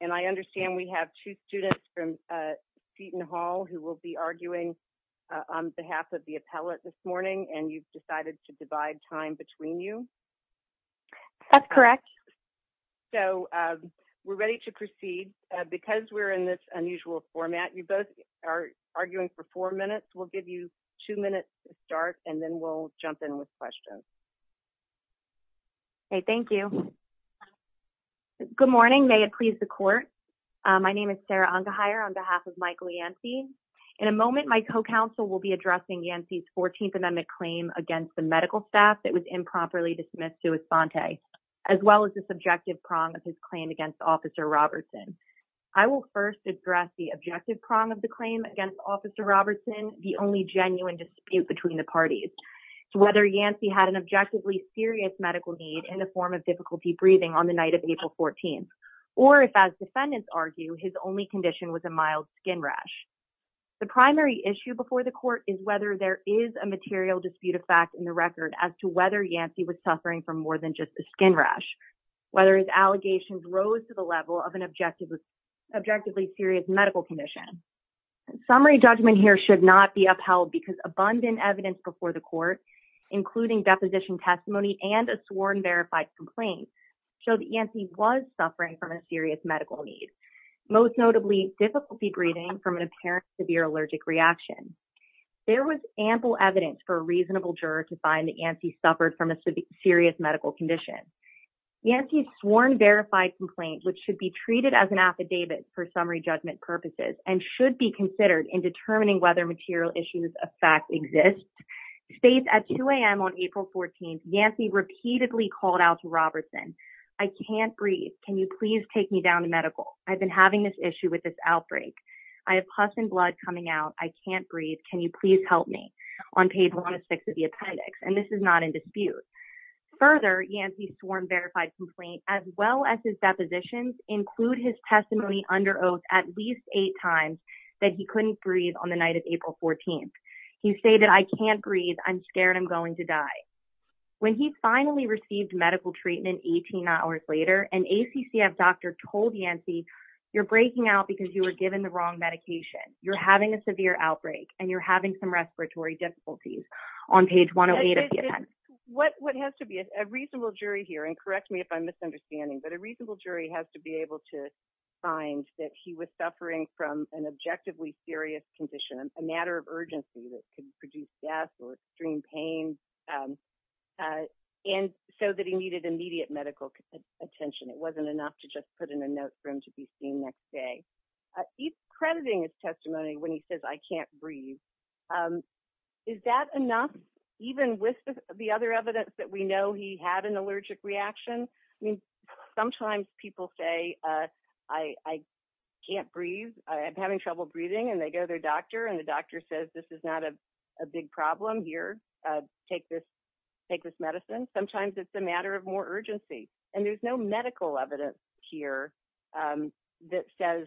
and I understand we have two students from Seton Hall who will be arguing on behalf of the appellate this morning and you've decided to divide time between you? That's correct. So we're ready to proceed. Because we're in this unusual format, you both are arguing for four minutes. We'll give you two minutes to start and then we'll jump in with questions. Okay, thank you. Good morning. May it please the court. My name is Sarah Ungeheyer on behalf of Michael Yancey. In a moment, my co-counsel will be addressing Yancey's 14th Amendment claim against the medical staff that was improperly dismissed to Esponte, as well as the subjective prong of his claim against Officer Robertson. I will first address the objective prong of the claim against Officer Robertson, the only genuine dispute between the parties. It's whether Yancey had an objectively serious medical need in the form of difficulty breathing on the night of April 14th, or if as defendants argue, his only condition was a mild skin rash. The primary issue before the court is whether there is a material dispute of fact in the record as to whether Yancey was suffering from more than just a skin rash, whether his allegations rose to the level of an objectively serious medical condition. Summary judgment here should not be upheld because abundant evidence before the court, including deposition testimony and a sworn verified complaint show that Yancey was suffering from a serious medical need. Most notably, difficulty breathing from an apparent severe allergic reaction. There was ample evidence for a reasonable juror to find that Yancey suffered from a serious medical condition. Yancey's sworn verified complaint, which should be treated as an affidavit for summary judgment purposes and should be considered in determining whether material issues of fact exists, states at 2 a.m. on April 14th, Yancey repeatedly called out to Robertson. I can't breathe. Can you please take me down to medical? I've been having this issue with this outbreak. I have pus and blood coming out. I can't breathe. Can you please help me? On page 106 of the appendix, and this is not in dispute. Further, Yancey's sworn verified complaint, as well as his depositions, include his testimony under oath at least eight times that he couldn't breathe on the night of April 14th. He stated, I can't breathe. I'm scared I'm going to die. When he finally received medical treatment 18 hours later, an ACCF doctor told Yancey, you're breaking out because you were given the wrong medication. You're having a severe outbreak and you're having some respiratory difficulties. On page 108 of the appendix. What has to be a reasonable jury here and correct me if I'm misunderstanding, but a reasonable jury has to be able to find that he was suffering from an objectively serious condition, a matter of urgency that could produce death or extreme pain. And so that he needed immediate medical attention. It wasn't enough to just put in a note for him to be seen next day. He's crediting his testimony when he says I can't breathe. Is that enough? Even with the other evidence that we know he had an allergic reaction. I mean, sometimes people say, I can't breathe. I'm having trouble breathing. And they go to their doctor and the doctor says this is not a big problem here. Take this, take this medicine. Sometimes it's a matter of more urgency. And there's no medical evidence here that says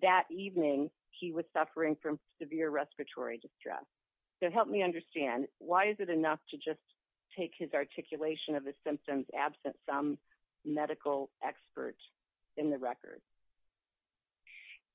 that evening, he was suffering from severe respiratory distress. So help me understand why is it enough to just take his articulation of the symptoms absent some medical experts in the record?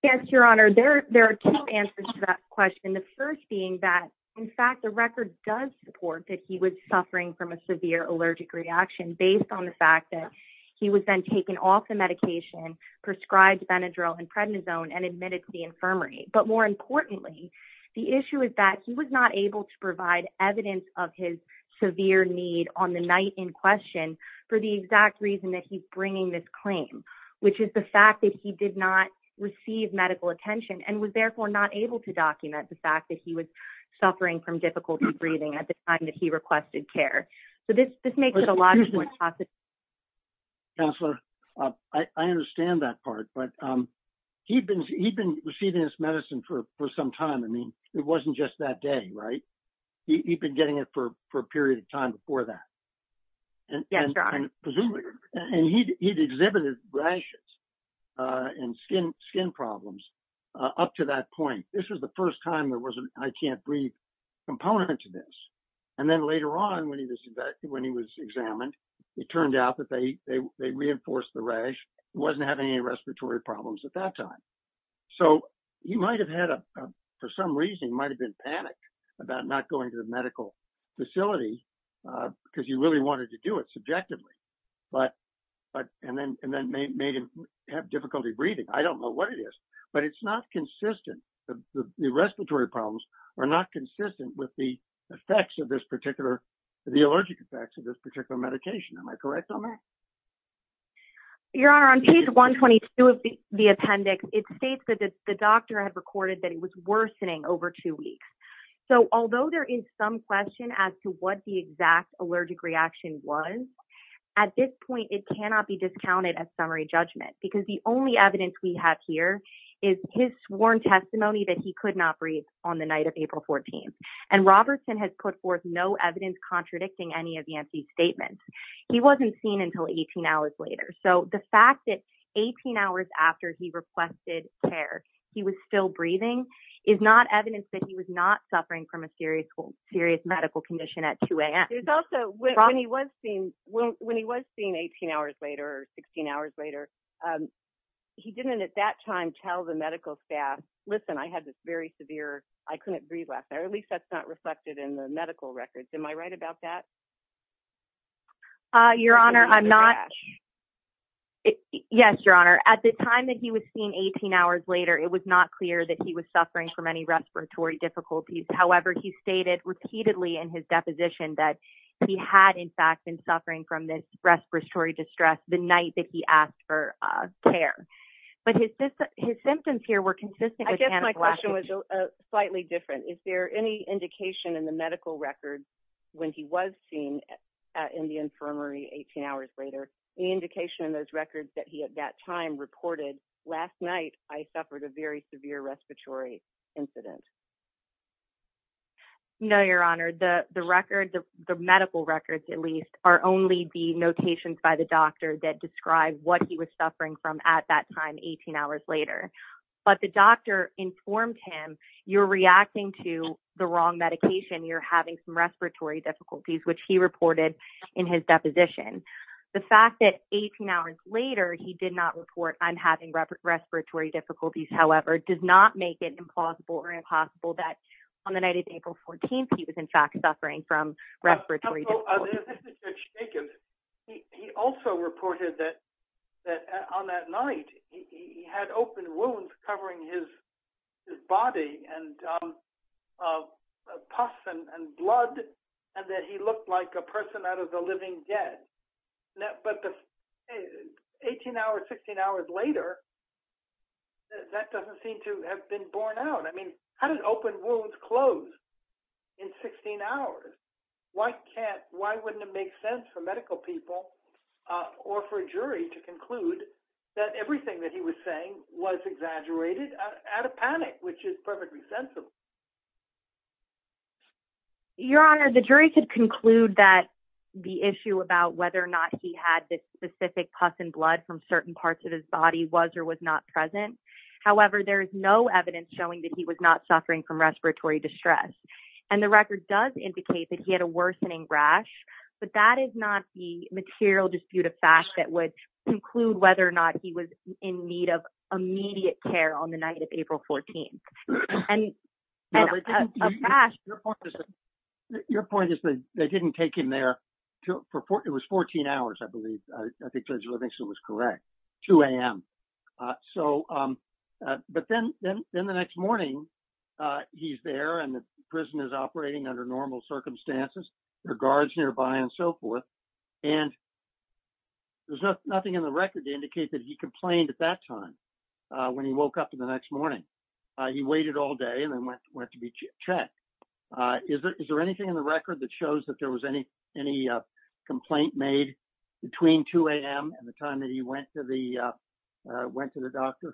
Yes, Your Honor, there are two answers to that question. The first being that, in fact, the record does support that he was suffering from a severe allergic reaction based on the fact that he was then taken off the medication prescribed Benadryl and prednisone and admitted to the infirmary. But more importantly, the issue is that he was not able to provide evidence of his severe need on the night in question for the exact reason that he's bringing this claim, which is the fact that he did not receive medical attention and was therefore not able to document the fact that he was suffering from difficulty breathing at the time that he requested care. So this makes it a lot more possible. Counselor, I understand that part, but he'd been receiving this medicine for some time. I mean, it wasn't just that day, right? He'd been getting it for a period of time before that. And presumably, and he'd exhibited rashes and skin problems up to that point. This was the first time there was an I can't breathe component to this. And then later on when he was examined, it turned out that they at that time. So he might've had a, for some reason, it might've been panic about not going to the medical facility because he really wanted to do it subjectively. But, and then made him have difficulty breathing. I don't know what it is, but it's not consistent. The respiratory problems are not consistent with the effects of this particular, the allergic effects of this appendix. It states that the doctor had recorded that it was worsening over two weeks. So although there is some question as to what the exact allergic reaction was at this point, it cannot be discounted as summary judgment because the only evidence we have here is his sworn testimony that he could not breathe on the night of April 14th. And Robertson has put forth no evidence contradicting any of the empty statements. He wasn't seen until 18 hours later. So the fact that 18 hours after he requested care, he was still breathing is not evidence that he was not suffering from a serious medical condition at 2 a.m. There's also when he was seen 18 hours later or 16 hours later, he didn't at that time tell the medical staff, listen, I had this very severe, I couldn't breathe last night, or at least that's not reflected in the medical records. Am I right about that? Uh, Your Honor, I'm not. Yes, Your Honor. At the time that he was seen 18 hours later, it was not clear that he was suffering from any respiratory difficulties. However, he stated repeatedly in his deposition that he had in fact been suffering from this respiratory distress the night that he asked for care. But his symptoms here were consistent. I guess my question was slightly different. Is there any indication in the medical records when he was seen in the infirmary 18 hours later, any indication in those records that he at that time reported last night I suffered a very severe respiratory incident? No, Your Honor. The records, the medical records at least, are only the notations by the doctor that describe what he was suffering from at that time 18 hours later. But the doctor informed him, you're reacting to the wrong medication, you're having some respiratory difficulties, which he reported in his deposition. The fact that 18 hours later, he did not report I'm having respiratory difficulties, however, does not make it implausible or impossible that on the night of April 14, he was in fact suffering from respiratory. There's a shake of it. He also reported that on that night, he had open wounds covering his body and pus and blood, and that he looked like a person out of the living dead. But 18 hours, 16 hours later, that doesn't seem to have been borne out. I mean, how did open wounds close in 16 hours? Why wouldn't it make sense for medical people or for a jury to conclude that everything that he was saying was exaggerated out of panic, which is perfectly sensible? Your Honor, the jury could conclude that the issue about whether or not he had this specific pus and blood from certain parts of his body was or was not present. However, there is no evidence showing that he was not suffering from respiratory distress. And the record does indicate that he had a worsening rash, but that is not the material dispute of fact that would conclude whether or not he was in need of immediate care on the night of April 14. And a rash... Your point is that they didn't take him there for... It was 14 hours, I believe. I think Judge Livingston was correct. 2 a.m. But then the next morning, he's there and the prison is operating under normal circumstances. There are guards nearby and so forth. And there's nothing in the record to indicate that he complained at that time when he woke up the next morning. He waited all day and then went to be checked. Is there anything in the record that shows that there was any complaint made between 2 a.m. and the time that he went to the doctor?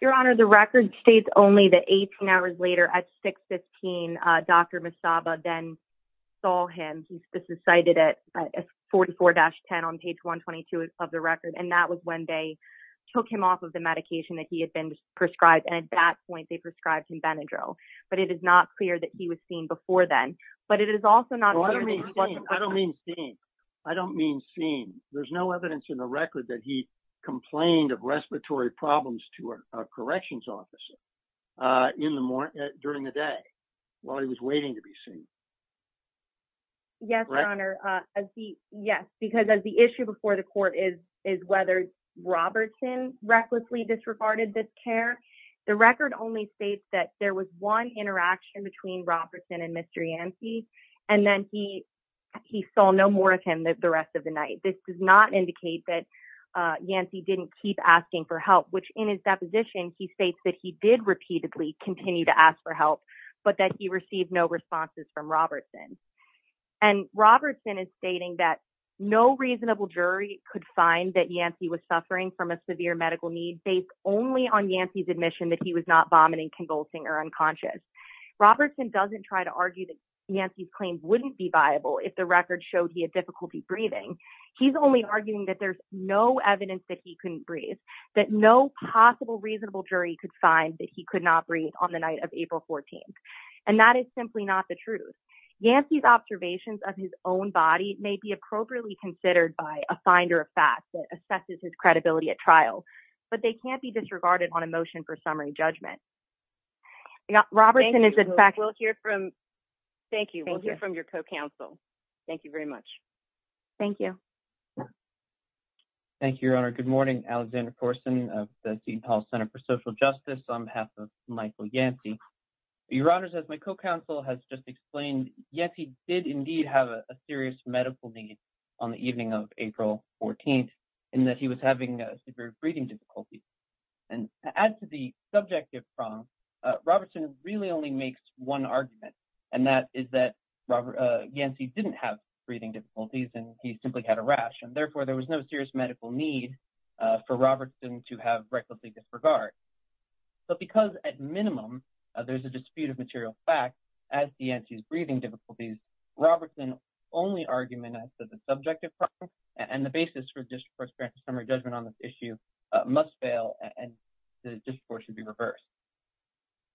Your Honor, the record states only that 18 hours later at 6.15, Dr. Misaba then saw him. This is cited at 44-10 on page 122 of the record. And that was when they took him off of the medication that he had been prescribed. And at that point, they prescribed him Benadryl. But it is not clear that he was seen before then. But it is also not... I don't mean seen. I don't mean seen. There's no evidence in the record that he complained of respiratory problems to a corrections officer during the day while he was waiting to be seen. Yes, Your Honor. Yes. Because as the issue before the court is whether Robertson recklessly disregarded this care, the record only states that there was one interaction between Robertson and Mr. Yancey. And then he saw no more of him the rest of the night. This does not indicate that Yancey didn't keep asking for help, which in his deposition, he states that he did repeatedly continue to ask for help, but that he received no responses from a severe medical need based only on Yancey's admission that he was not vomiting, convulsing, or unconscious. Robertson doesn't try to argue that Yancey's claims wouldn't be viable if the record showed he had difficulty breathing. He's only arguing that there's no evidence that he couldn't breathe, that no possible reasonable jury could find that he could not breathe on the night of April 14th. And that is simply not the truth. Yancey's a finder of facts that assesses his credibility at trial, but they can't be disregarded on a motion for summary judgment. Robertson is in fact- Thank you. We'll hear from your co-counsel. Thank you very much. Thank you. Thank you, Your Honor. Good morning. Alexander Corson of the Dean Paul Center for Social Justice on behalf of Michael Yancey. Your Honor, as my co-counsel has just explained, Yancey did indeed have a serious medical need on the evening of April 14th in that he was having severe breathing difficulties. And to add to the subjective prong, Robertson really only makes one argument, and that is that Yancey didn't have breathing difficulties and he simply had a rash. And therefore there was no serious medical need for Robertson to have recklessly disregard. But because at minimum there's a dispute of facts as Yancey's breathing difficulties, Robertson's only argument as to the subjective prong and the basis for district court's grand summary judgment on this issue must fail and the discourse should be reversed.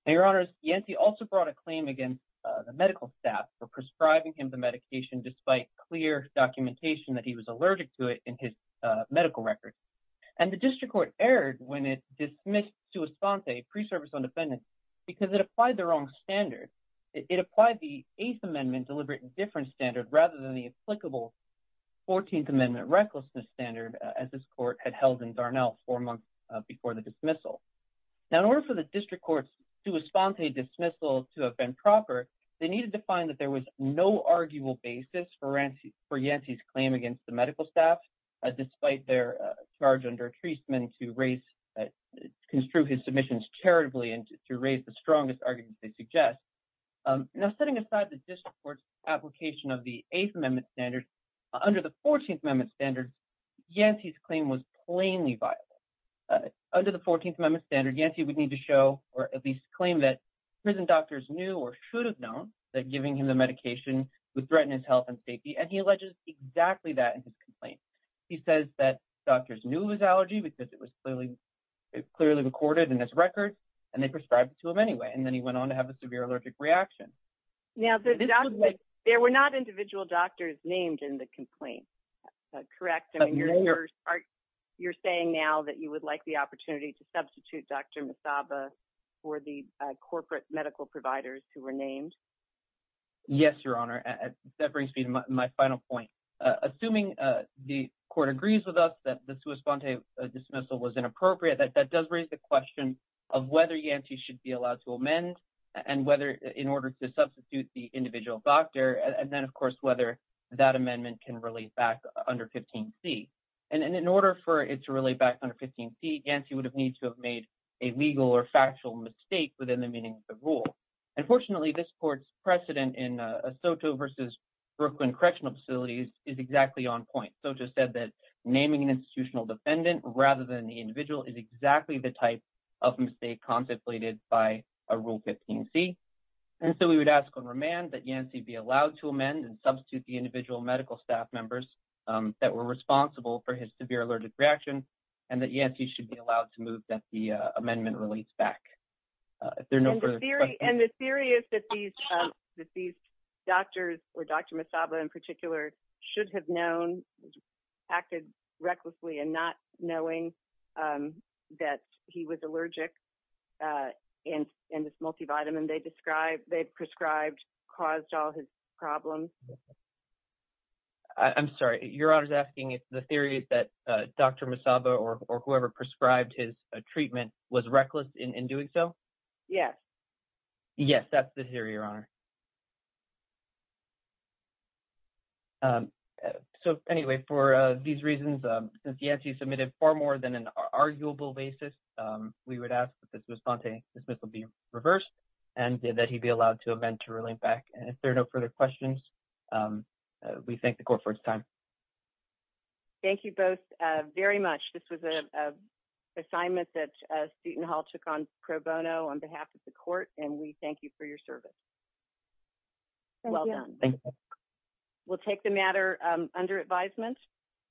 Now, Your Honors, Yancey also brought a claim against the medical staff for prescribing him the medication despite clear documentation that he was allergic to it in his medical records. And the district court erred when it dismissed pre-service on defendants because it applied the wrong standard. It applied the Eighth Amendment deliberate indifference standard rather than the applicable 14th Amendment recklessness standard as this court had held in Darnell four months before the dismissal. Now, in order for the district court's sua sponte dismissal to have been proper, they needed to find that there was no arguable basis for Yancey's claim against the medical staff despite their charge under to construe his submissions charitably and to raise the strongest arguments they suggest. Now, setting aside the district court's application of the Eighth Amendment standard, under the 14th Amendment standard, Yancey's claim was plainly viable. Under the 14th Amendment standard, Yancey would need to show or at least claim that prison doctors knew or should have known that giving him the medication would threaten his health and safety. And he alleges exactly that in his complaint. He says that doctors knew his allergy because it was clearly recorded in his record and they prescribed it to him anyway. And then he went on to have a severe allergic reaction. Now, there were not individual doctors named in the complaint, correct? I mean, you're saying now that you would like the opportunity to substitute Dr. Masaba for the corporate medical providers who were named? Yes, Your Honor. That brings me to my final point. Assuming the court agrees with us that the sua sponte dismissal was inappropriate, that does raise the question of whether Yancey should be allowed to amend and whether in order to substitute the individual doctor and then, of course, whether that amendment can relate back under 15C. And in order for it to relate back under 15C, Yancey would have need to have made a legal or factual mistake within the meaning of the rule. Unfortunately, this court's precedent in Soto versus Brooklyn Correctional Facilities is exactly on point. Soto said that naming an institutional defendant rather than the individual is exactly the type of mistake contemplated by a rule 15C. And so we would ask on remand that Yancey be allowed to amend and substitute the individual medical staff members that were responsible for his severe allergic reaction and that Yancey should be allowed to move that the amendment relates back. If there are no further questions... And the theory is that these doctors, or Dr. Masaba in particular, should have known, acted recklessly and not knowing that he was allergic and this multivitamin they prescribed caused all his problems. I'm sorry. Your Honor's asking if the theory is that Dr. Masaba or whoever prescribed his treatment was reckless in doing so? Yes. Yes, that's the theory, Your Honor. So anyway, for these reasons, since Yancey submitted far more than an arguable basis, we would ask that this response be reversed and that he be allowed to amend to relate back. And if there are no further questions, we thank the court for its time. Thank you both very much. This was an assignment that Sutton Hall took on pro bono on behalf of the court, and we thank you for your service. Well done. Thank you. We'll take the matter under advisement.